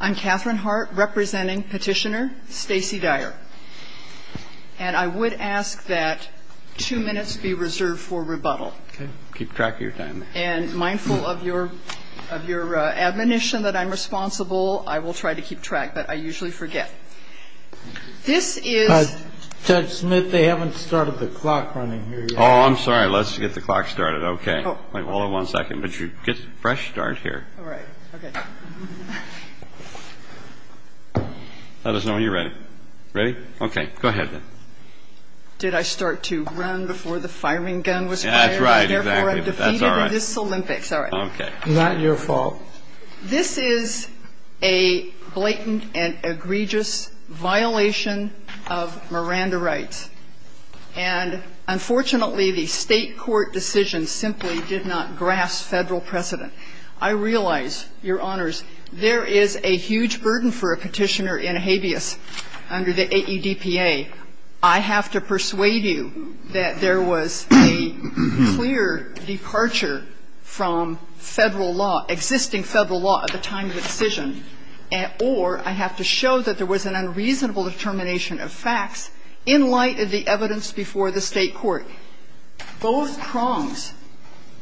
I'm Catherine Hart, representing petitioner Stacey Dyer, and I would ask that two minutes be reserved for rebuttal. Keep track of your time. And mindful of your admonition that I'm responsible, I will try to keep track, but I usually forget. This is... Judge Smith, they haven't started the clock running here yet. Oh, I'm sorry. Let's get the clock started. Hold on one second. But you get a fresh start here. All right. Okay. Let us know when you're ready. Ready? Okay. Go ahead, then. Did I start to run before the firing gun was fired? That's right. Exactly. Therefore, I'm defeated in this Olympics. All right. Okay. Is that your fault? This is a blatant and egregious violation of Miranda rights. And unfortunately, the State court decision simply did not grasp Federal precedent. I realize, Your Honors, there is a huge burden for a Petitioner in habeas under the AEDPA. I have to persuade you that there was a clear departure from Federal law, existing Federal law at the time of the decision, or I have to show that there was an unreasonable determination of facts in light of the evidence before the State court. Both prongs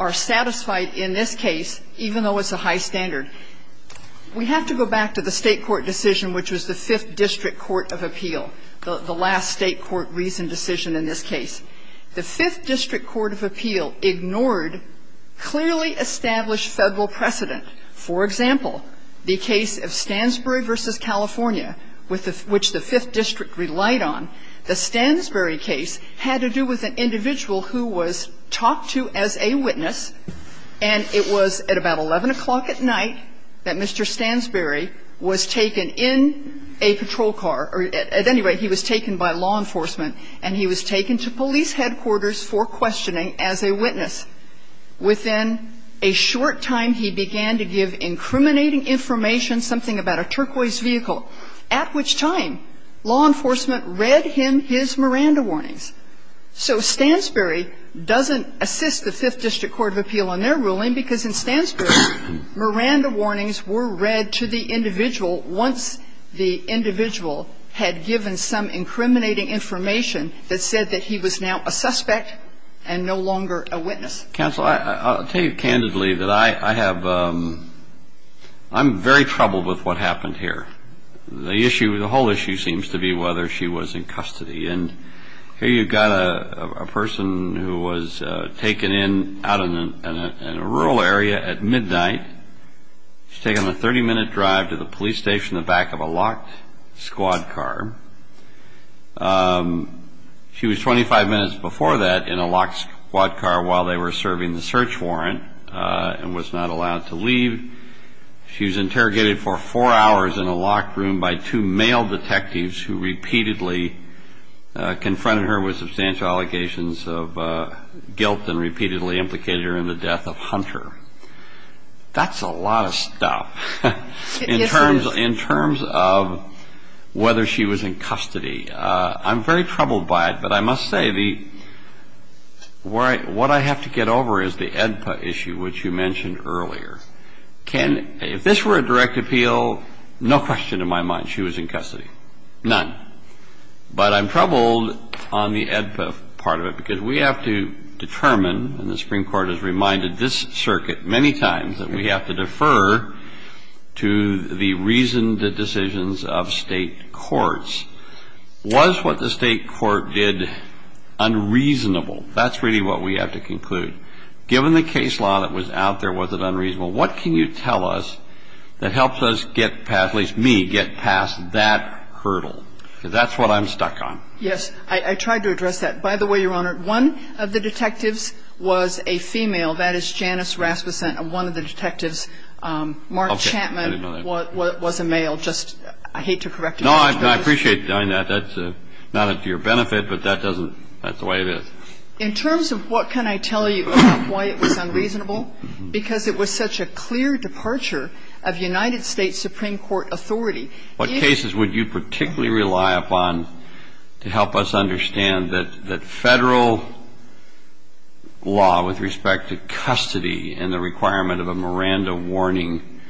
are satisfied in this case, even though it's a high standard. We have to go back to the State court decision, which was the Fifth District Court of Appeal, the last State court reasoned decision in this case. The Fifth District Court of Appeal ignored clearly established Federal precedent. For example, the case of Stansbury v. California, which the Fifth District relied on, the Stansbury case had to do with an individual who was talked to as a witness, and it was at about 11 o'clock at night that Mr. Stansbury was taken in a patrol car, or at any rate, he was taken by law enforcement, and he was taken to police headquarters for questioning as a witness. Within a short time, he began to give incriminating information, something about a turquoise vehicle, at which time law enforcement read him his Miranda warnings. So Stansbury doesn't assist the Fifth District Court of Appeal in their ruling because in Stansbury, Miranda warnings were read to the individual once the individual had given some incriminating information that said that he was now a suspect and no longer a witness. Counsel, I'll tell you candidly that I have, I'm very troubled with what happened here. The issue, the whole issue seems to be whether she was in custody, and here you've got a person who was taken in out in a rural area at midnight. She was taken on a 30-minute drive to the police station in the back of a locked squad car. She was 25 minutes before that in a locked squad car while they were serving the search warrant and was not allowed to leave. She was interrogated for four hours in a locked room by two male detectives who repeatedly confronted her with substantial allegations of guilt and repeatedly implicated her in the death of Hunter. That's a lot of stuff. In terms of whether she was in custody, I'm very troubled by it, but I must say the – what I have to get over is the AEDPA issue, which you mentioned earlier. Can – if this were a direct appeal, no question in my mind she was in custody. None. But I'm troubled on the AEDPA part of it because we have to determine, and the Supreme Court has to defer to the reasoned decisions of State courts. Was what the State court did unreasonable? That's really what we have to conclude. Given the case law that was out there, was it unreasonable? What can you tell us that helps us get past – at least me – get past that hurdle? Because that's what I'm stuck on. Yes. I tried to address that. By the way, Your Honor, one of the detectives was a female. That is Janice Rasmussen, one of the detectives. Mark Chapman was a male. Just – I hate to correct you. No, I appreciate you doing that. That's not to your benefit, but that doesn't – that's the way it is. In terms of what can I tell you about why it was unreasonable? Because it was such a clear departure of United States Supreme Court authority. What cases would you particularly rely upon to help us understand that Federal law with respect to custody and the requirement of a Miranda warning?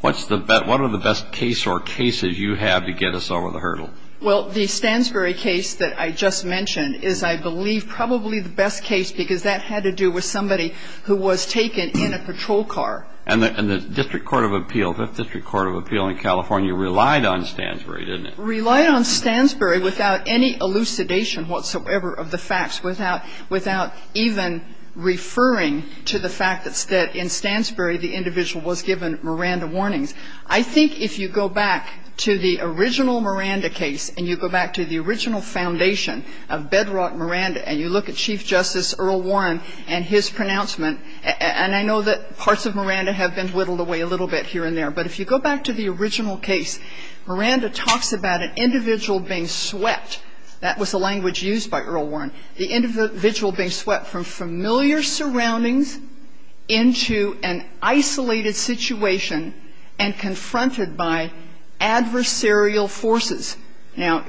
What's the – what are the best case or cases you have to get us over the hurdle? Well, the Stansbury case that I just mentioned is, I believe, probably the best case because that had to do with somebody who was taken in a patrol car. And the District Court of Appeal, Fifth District Court of Appeal in California, relied on Stansbury, didn't it? Relied on Stansbury without any elucidation whatsoever of the facts, without even referring to the fact that in Stansbury the individual was given Miranda warnings. I think if you go back to the original Miranda case, and you go back to the original foundation of Bedrock Miranda, and you look at Chief Justice Earl Warren and his pronouncement, and I know that parts of Miranda have been whittled away a little bit here and there, but if you go back to the original case, Miranda talks about an individual being swept. That was the language used by Earl Warren. The individual being swept from familiar surroundings into an isolated situation and confronted by adversarial forces. Now,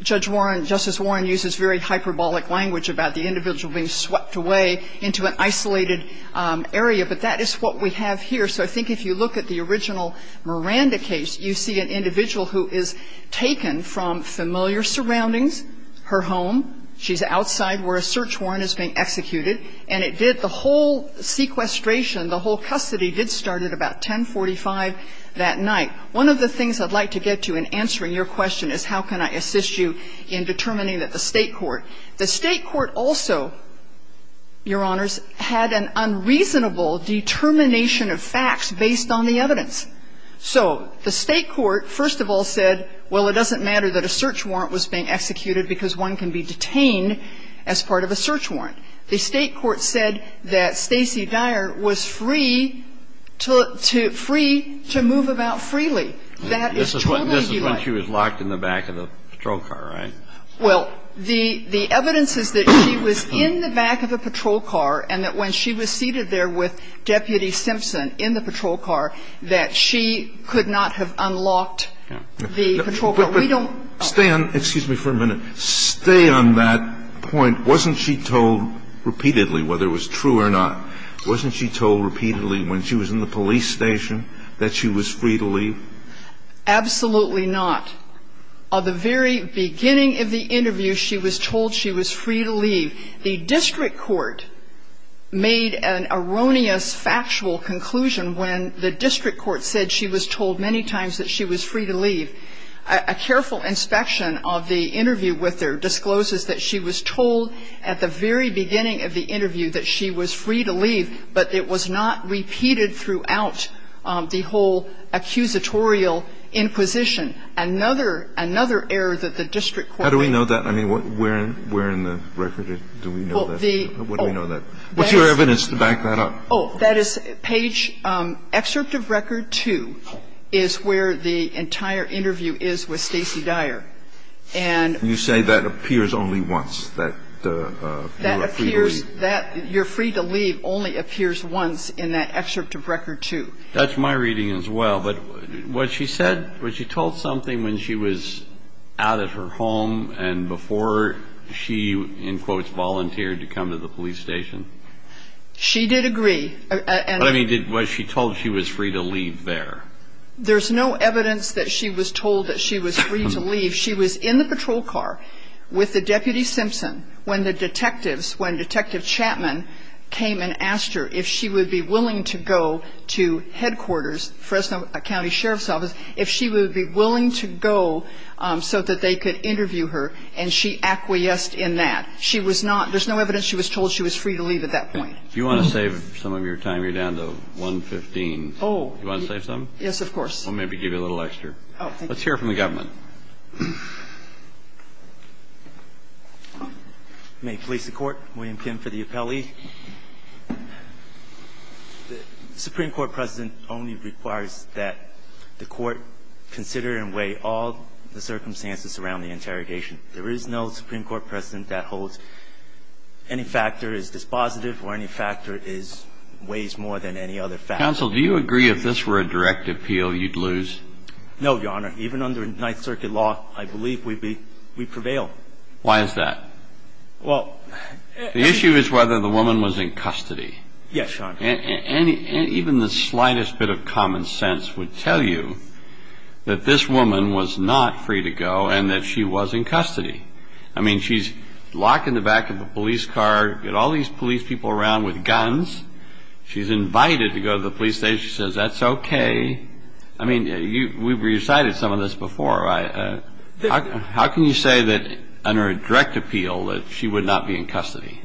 Judge Warren, Justice Warren uses very hyperbolic language about the individual being swept away into an isolated area, but that is what we have here. So I think if you look at the original Miranda case, you see an individual who is taken from familiar surroundings, her home. She's outside where a search warrant is being executed. And it did the whole sequestration, the whole custody did start at about 1045 that night. One of the things I'd like to get to in answering your question is how can I assist you in determining that the State court, the State court also, Your Honors, had an unreasonable determination of facts based on the evidence. So the State court, first of all, said, well, it doesn't matter that a search warrant was being executed because one can be detained as part of a search warrant. The State court said that Stacey Dyer was free to move about freely. That is totally the lie. This is when she was locked in the back of a patrol car, right? Well, the evidence is that she was in the back of a patrol car and that when she was seated there with Deputy Simpson in the patrol car, that she could not have unlocked the patrol car. We don't ---- Stand. Excuse me for a minute. Stay on that point. Wasn't she told repeatedly, whether it was true or not, wasn't she told repeatedly when she was in the police station that she was free to leave? Absolutely not. At the very beginning of the interview, she was told she was free to leave. The district court made an erroneous factual conclusion when the district court said she was told many times that she was free to leave. A careful inspection of the interview with her discloses that she was told at the very beginning of the interview that she was free to leave, but it was not repeated throughout the whole accusatorial inquisition. And then another error that the district court made. How do we know that? I mean, where in the record do we know that? What do we know that? What's your evidence to back that up? Oh, that is page ---- Excerpt of record two is where the entire interview is with Stacy Dyer. And ---- You say that appears only once, that you are free to leave. She only appears once in that excerpt of record two. That's my reading as well. But what she said, was she told something when she was out at her home and before she, in quotes, volunteered to come to the police station? She did agree. What I mean, was she told she was free to leave there? There's no evidence that she was told that she was free to leave. She was in the patrol car with the Deputy Simpson when the detectives, when Detective Chapman came and asked her if she would be willing to go to headquarters, Fresno County Sheriff's Office, if she would be willing to go so that they could interview her. And she acquiesced in that. She was not ---- there's no evidence she was told she was free to leave at that point. If you want to save some of your time, you're down to 115. Oh. Do you want to save some? Yes, of course. Oh, thank you. Let's hear from the government. May it please the Court. William Pym for the appellee. The Supreme Court precedent only requires that the Court consider and weigh all the circumstances around the interrogation. There is no Supreme Court precedent that holds any factor is dispositive or any factor is ---- weighs more than any other factor. Counsel, do you agree if this were a direct appeal, you'd lose? No, Your Honor. Even under Ninth Circuit law, I believe we'd be ---- we'd prevail. Why is that? Well ---- The issue is whether the woman was in custody. Yes, Your Honor. And even the slightest bit of common sense would tell you that this woman was not free to go and that she was in custody. I mean, she's locked in the back of a police car, got all these police people around with guns. She's invited to go to the police station. She says, that's okay. I mean, we've recited some of this before. How can you say that under a direct appeal that she would not be in custody?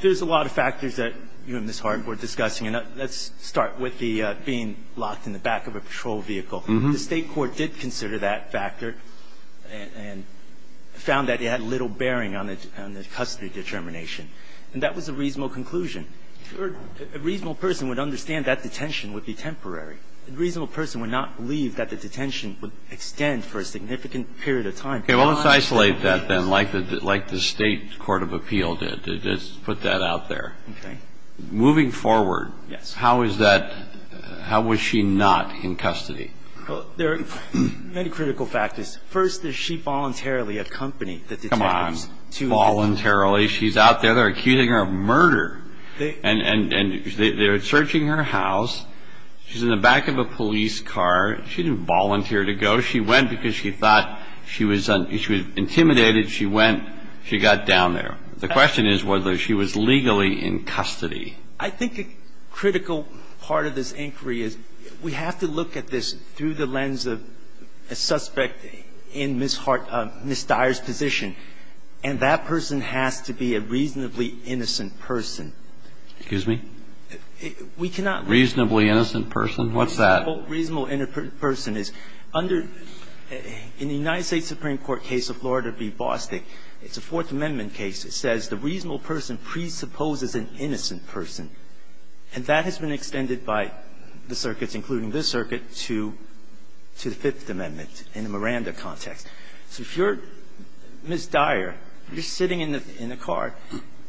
There's a lot of factors that you and Ms. Harden were discussing. And let's start with the being locked in the back of a patrol vehicle. The State court did consider that factor and found that it had little bearing on the custody determination. And that was a reasonable conclusion. A reasonable person would understand that detention would be temporary. A reasonable person would not believe that the detention would extend for a significant period of time. Okay. Well, let's isolate that, then, like the State court of appeal did. Let's put that out there. Okay. Moving forward, how is that ---- Yes. How was she not in custody? Well, there are many critical factors. First, is she voluntarily accompanied? Come on. Voluntarily. She's out there. They're accusing her of murder. And they're searching her house. She's in the back of a police car. She didn't volunteer to go. She went because she thought she was intimidated. She went. She got down there. The question is whether she was legally in custody. I think a critical part of this inquiry is we have to look at this through the lens of a suspect in Ms. Dyer's position. And that person has to be a reasonably innocent person. Excuse me? We cannot ---- We cannot presume that she is a reasonably innocent person. What's that? A reasonable innocent person is under the United States Supreme Court case of Florida v. Bostick, it's a Fourth Amendment case that says the reasonable person presupposes an innocent person. And that has been extended by the circuits, including this circuit, to the Fifth Amendment in the Miranda context. So if you're Ms. Dyer, you're sitting in the car,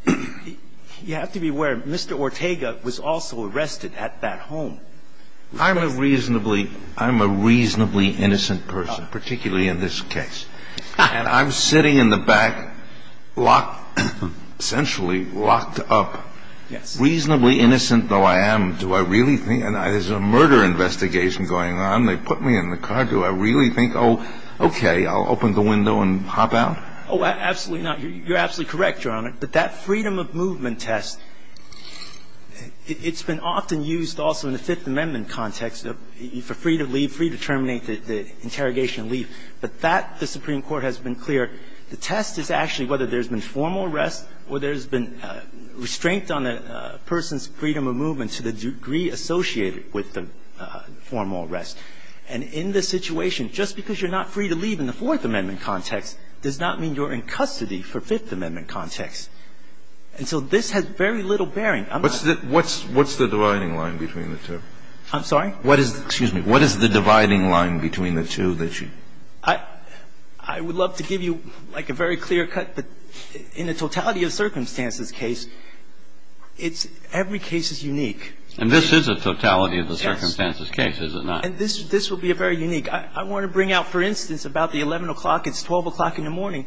you have to be aware Mr. Ortega was also arrested at that home. I'm a reasonably ---- I'm a reasonably innocent person, particularly in this case. And I'm sitting in the back locked ---- essentially locked up. Yes. Reasonably innocent though I am, do I really think ---- and there's a murder investigation going on. They put me in the car. Do I really think, oh, okay, I'll open the window and hop out? Oh, absolutely not. You're absolutely correct, Your Honor. But that freedom of movement test, it's been often used also in the Fifth Amendment context for free to leave, free to terminate the interrogation and leave. But that the Supreme Court has been clear, the test is actually whether there's been formal arrest or there's been restraint on a person's freedom of movement to the degree associated with the formal arrest. And in this situation, just because you're not free to leave in the Fourth Amendment context does not mean you're in custody for Fifth Amendment context. And so this has very little bearing. I'm not ---- What's the dividing line between the two? I'm sorry? What is the ---- excuse me. What is the dividing line between the two that you ---- I would love to give you like a very clear cut, but in a totality of circumstances case, it's ---- every case is unique. And this is a totality of the circumstances case, is it not? And this will be a very unique. I want to bring out, for instance, about the 11 o'clock. It's 12 o'clock in the morning.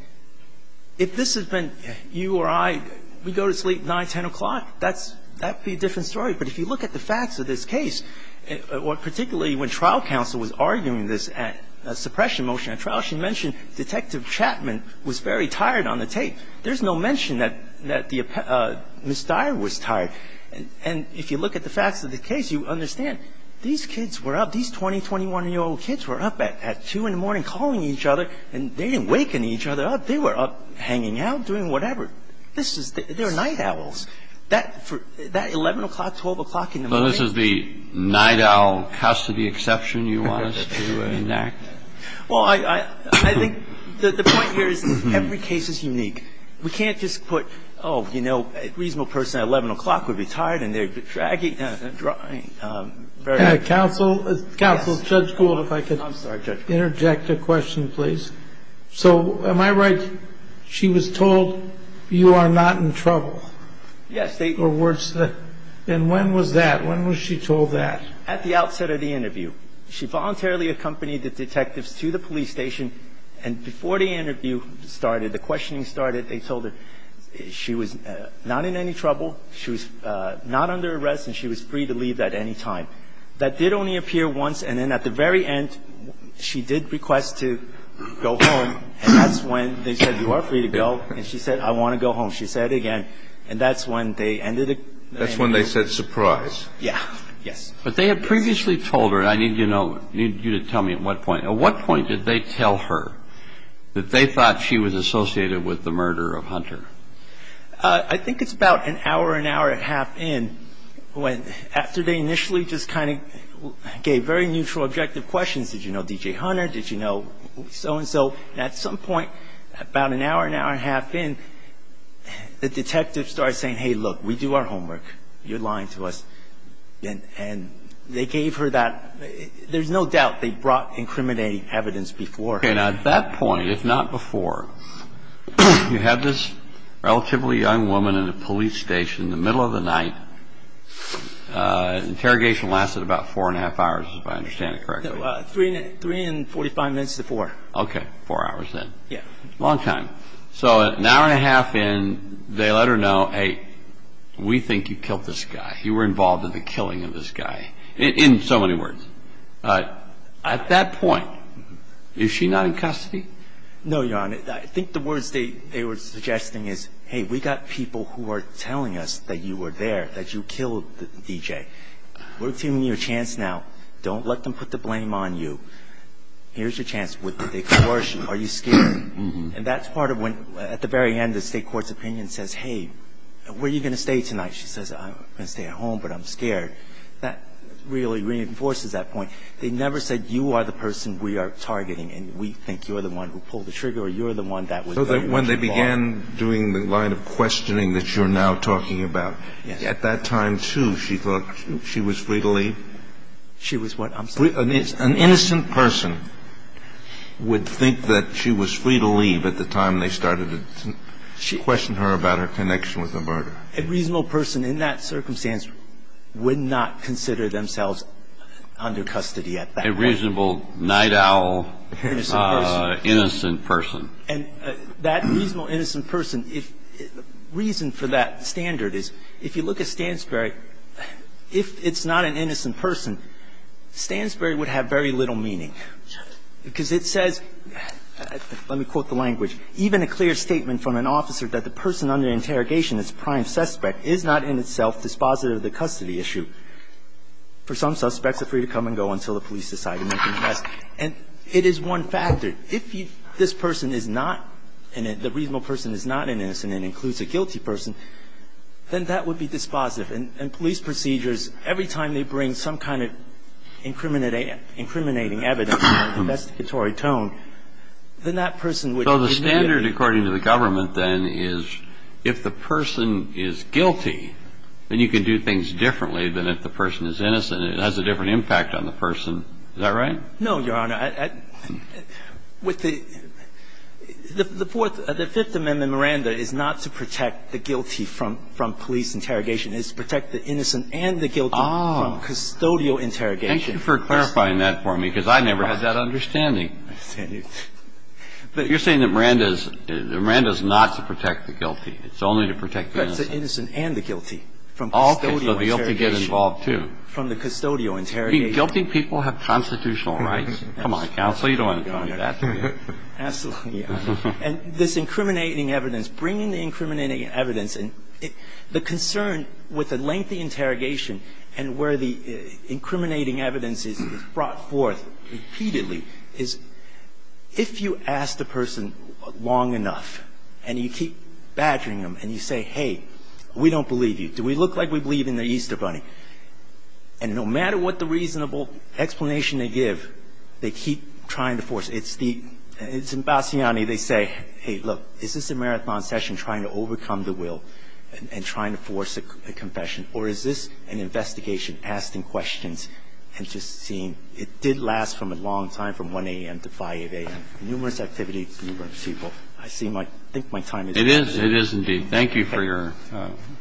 If this has been you or I, we go to sleep 9, 10 o'clock. That would be a different story. But if you look at the facts of this case, particularly when trial counsel was arguing this suppression motion at trial, she mentioned Detective Chapman was very tired on the tape. There's no mention that Ms. Dyer was tired. And if you look at the facts of the case, you understand these kids were up, these 20, 21-year-old kids were up at 2 in the morning calling each other, and they didn't waken each other up. They were up hanging out, doing whatever. This is the ---- they're night owls. That 11 o'clock, 12 o'clock in the morning ---- So this is the night owl custody exception you want us to enact? Well, I think the point here is every case is unique. We can't just put, oh, you know, a reasonable person at 11 o'clock would be tired and they're dragging and drawing. Counsel, Judge Gould, if I could interject a question, please. So am I right, she was told you are not in trouble? Yes. And when was that? When was she told that? At the outset of the interview. She voluntarily accompanied the detectives to the police station, and before the questioning started, the questioning started, they told her she was not in any trouble, she was not under arrest, and she was free to leave at any time. That did only appear once, and then at the very end, she did request to go home, and that's when they said, you are free to go, and she said, I want to go home. She said it again, and that's when they ended it. That's when they said surprise. Yes. But they had previously told her, and I need to know, I need you to tell me at what point did they tell her that they thought she was associated with the murder of Hunter? I think it's about an hour, an hour and a half in after they initially just kind of gave very neutral, objective questions. Did you know D.J. Hunter? Did you know so-and-so? And at some point, about an hour, an hour and a half in, the detectives started saying, hey, look, we do our homework. You're lying to us. And they gave her that. There's no doubt they brought incriminating evidence before. And at that point, if not before, you had this relatively young woman in a police station in the middle of the night. Interrogation lasted about four and a half hours, if I understand it correctly. Three and 45 minutes to four. Okay, four hours then. Yes. Long time. So an hour and a half in, they let her know, hey, we think you killed this guy. You were involved in the killing of this guy, in so many words. At that point, is she not in custody? No, Your Honor. I think the words they were suggesting is, hey, we've got people who are telling us that you were there, that you killed D.J. We're giving you a chance now. Don't let them put the blame on you. Here's your chance. Would they coerce you? Are you scared? And that's part of when, at the very end, the state court's opinion says, hey, where are you going to stay tonight? She says, I'm going to stay at home, but I'm scared. That really reinforces that point. They never said, you are the person we are targeting, and we think you're the one who pulled the trigger, or you're the one that was very much involved. So when they began doing the line of questioning that you're now talking about, at that time, too, she thought she was free to leave? She was what? I'm sorry. An innocent person would think that she was free to leave at the time they started to question her about her connection with the murder. A reasonable person in that circumstance would not consider themselves under custody at that point. A reasonable night owl, innocent person. And that reasonable innocent person, reason for that standard is, if you look at Stansberry, if it's not an innocent person, Stansberry would have very little meaning. And if you look at Stansberry, even a clear statement from an officer that the person under interrogation, this prime suspect, is not in itself dispositive of the custody issue. For some suspects, they're free to come and go until the police decide to make a request. And it is one factor. If this person is not in it, the reasonable person is not an innocent and includes a guilty person, then that would be dispositive. And police procedures, every time they bring some kind of incriminating evidence, investigatory tone, then that person would be guilty. So the standard, according to the government, then, is if the person is guilty, then you can do things differently than if the person is innocent. It has a different impact on the person. Is that right? No, Your Honor. The Fifth Amendment, Miranda, is not to protect the guilty from police interrogation. It's to protect the innocent and the guilty from custodial interrogation. Thank you for clarifying that for me, because I never had that understanding. You're saying that Miranda is not to protect the guilty. It's only to protect the innocent. It's to protect the innocent and the guilty from custodial interrogation. Okay. So the guilty gets involved, too. From the custodial interrogation. Guilty people have constitutional rights. Come on, counsel. You don't want to go into that. Absolutely, Your Honor. And this incriminating evidence, bringing the incriminating evidence, and the concern with a lengthy interrogation and where the incriminating evidence is brought forth repeatedly is if you ask the person long enough and you keep badgering them and you say, hey, we don't believe you, do we look like we believe in the Easter Bunny? And no matter what the reasonable explanation they give, they keep trying to force. It's the embassy, they say, hey, look, is this a marathon session trying to overcome the will and trying to force a confession, or is this an investigation asking questions and just seeing it did last from a long time, from 1 a.m. to 5 a.m., numerous activities, numerous people. I think my time is up. It is indeed. Thank you for your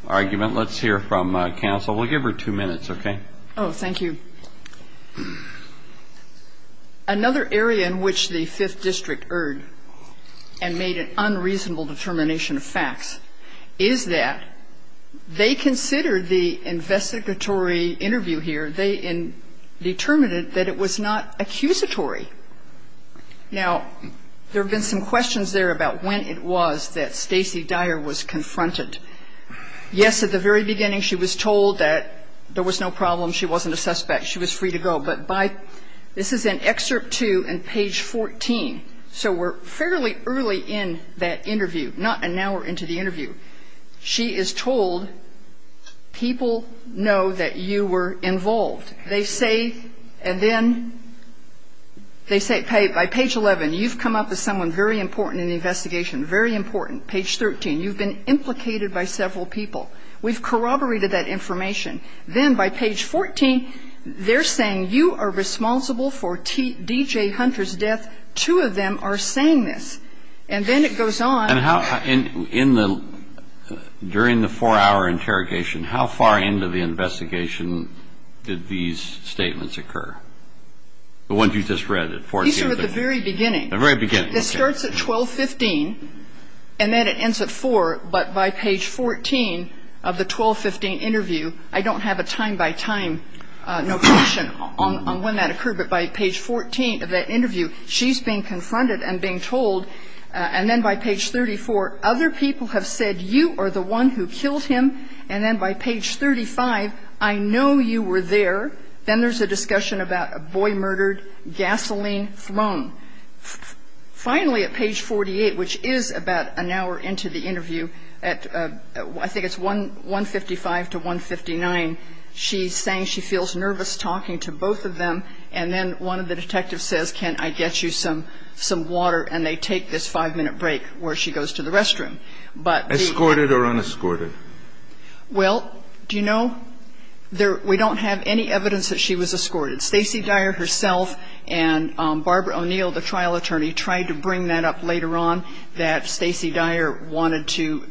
argument. Let's hear from counsel. We'll give her two minutes, okay? Oh, thank you. Another area in which the Fifth District erred and made an unreasonable determination of facts is that they considered the investigatory interview here, they determined that it was not accusatory. Now, there have been some questions there about when it was that Stacy Dyer was confronted. Yes, at the very beginning she was told that there was no problem, she wasn't a suspect, she was free to go. But by this is in excerpt 2 and page 14, so we're fairly early in that interview, not an hour into the interview. She is told, people know that you were involved. They say, and then they say, hey, by page 11, you've come up as someone very important in the investigation, very important. Page 13, you've been implicated by several people. We've corroborated that information. Then by page 14, they're saying you are responsible for D.J. Hunter's death. Two of them are saying this. And then it goes on. And how, in the, during the four-hour interrogation, how far into the investigation did these statements occur? The ones you just read at 14. These are at the very beginning. The very beginning. This starts at 12.15, and then it ends at 4. But by page 14 of the 12.15 interview, I don't have a time-by-time notation on when that occurred. But by page 14 of that interview, she's being confronted and being told. And then by page 34, other people have said you are the one who killed him. And then by page 35, I know you were there. Then there's a discussion about a boy murdered, gasoline thrown. Finally, at page 48, which is about an hour into the interview, at I think it's 155 to 159, she's saying she feels nervous talking to both of them. And then one of the detectives says, can I get you some water? And they take this five-minute break where she goes to the restroom. But the ---- Escorted or unescorted? Well, do you know, there we don't have any evidence that she was escorted. Stacey Dyer herself and Barbara O'Neill, the trial attorney, tried to bring that up later on, that Stacey Dyer wanted to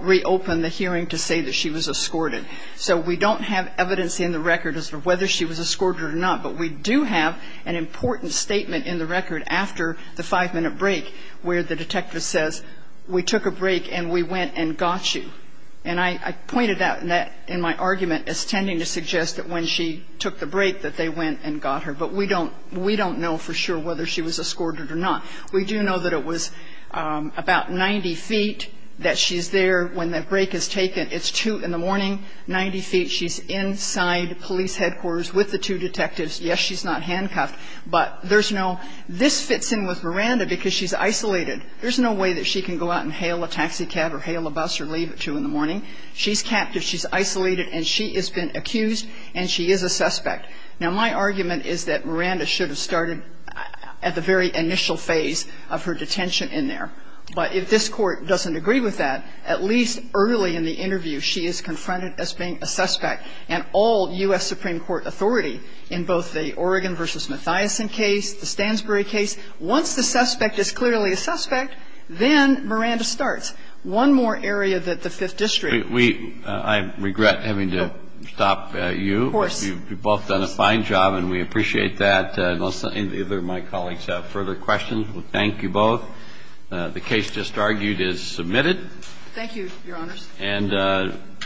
reopen the hearing to say that she was escorted. So we don't have evidence in the record as to whether she was escorted or not. But we do have an important statement in the record after the five-minute break where the detective says, we took a break and we went and got you. And I pointed out in my argument as tending to suggest that when she took the break that they went and got her. But we don't know for sure whether she was escorted or not. We do know that it was about 90 feet that she's there when that break is taken. It's 2 in the morning, 90 feet. She's inside police headquarters with the two detectives. Yes, she's not handcuffed, but there's no ---- This fits in with Miranda because she's isolated. There's no way that she can go out and hail a taxi cab or hail a bus or leave at 2 in the morning. She's captive. She's isolated. And she has been accused, and she is a suspect. Now, my argument is that Miranda should have started at the very initial phase of her detention in there. But if this Court doesn't agree with that, at least early in the interview, she is confronted as being a suspect. And all U.S. Supreme Court authority in both the Oregon v. Mathiason case, the Stansbury case, once the suspect is clearly a suspect, then Miranda starts. One more area that the Fifth District ---- We ---- I regret having to stop you. Of course. You've both done a fine job, and we appreciate that. Unless either of my colleagues have further questions, we'll thank you both. The case just argued is submitted. Thank you, Your Honors. And we're adjourned.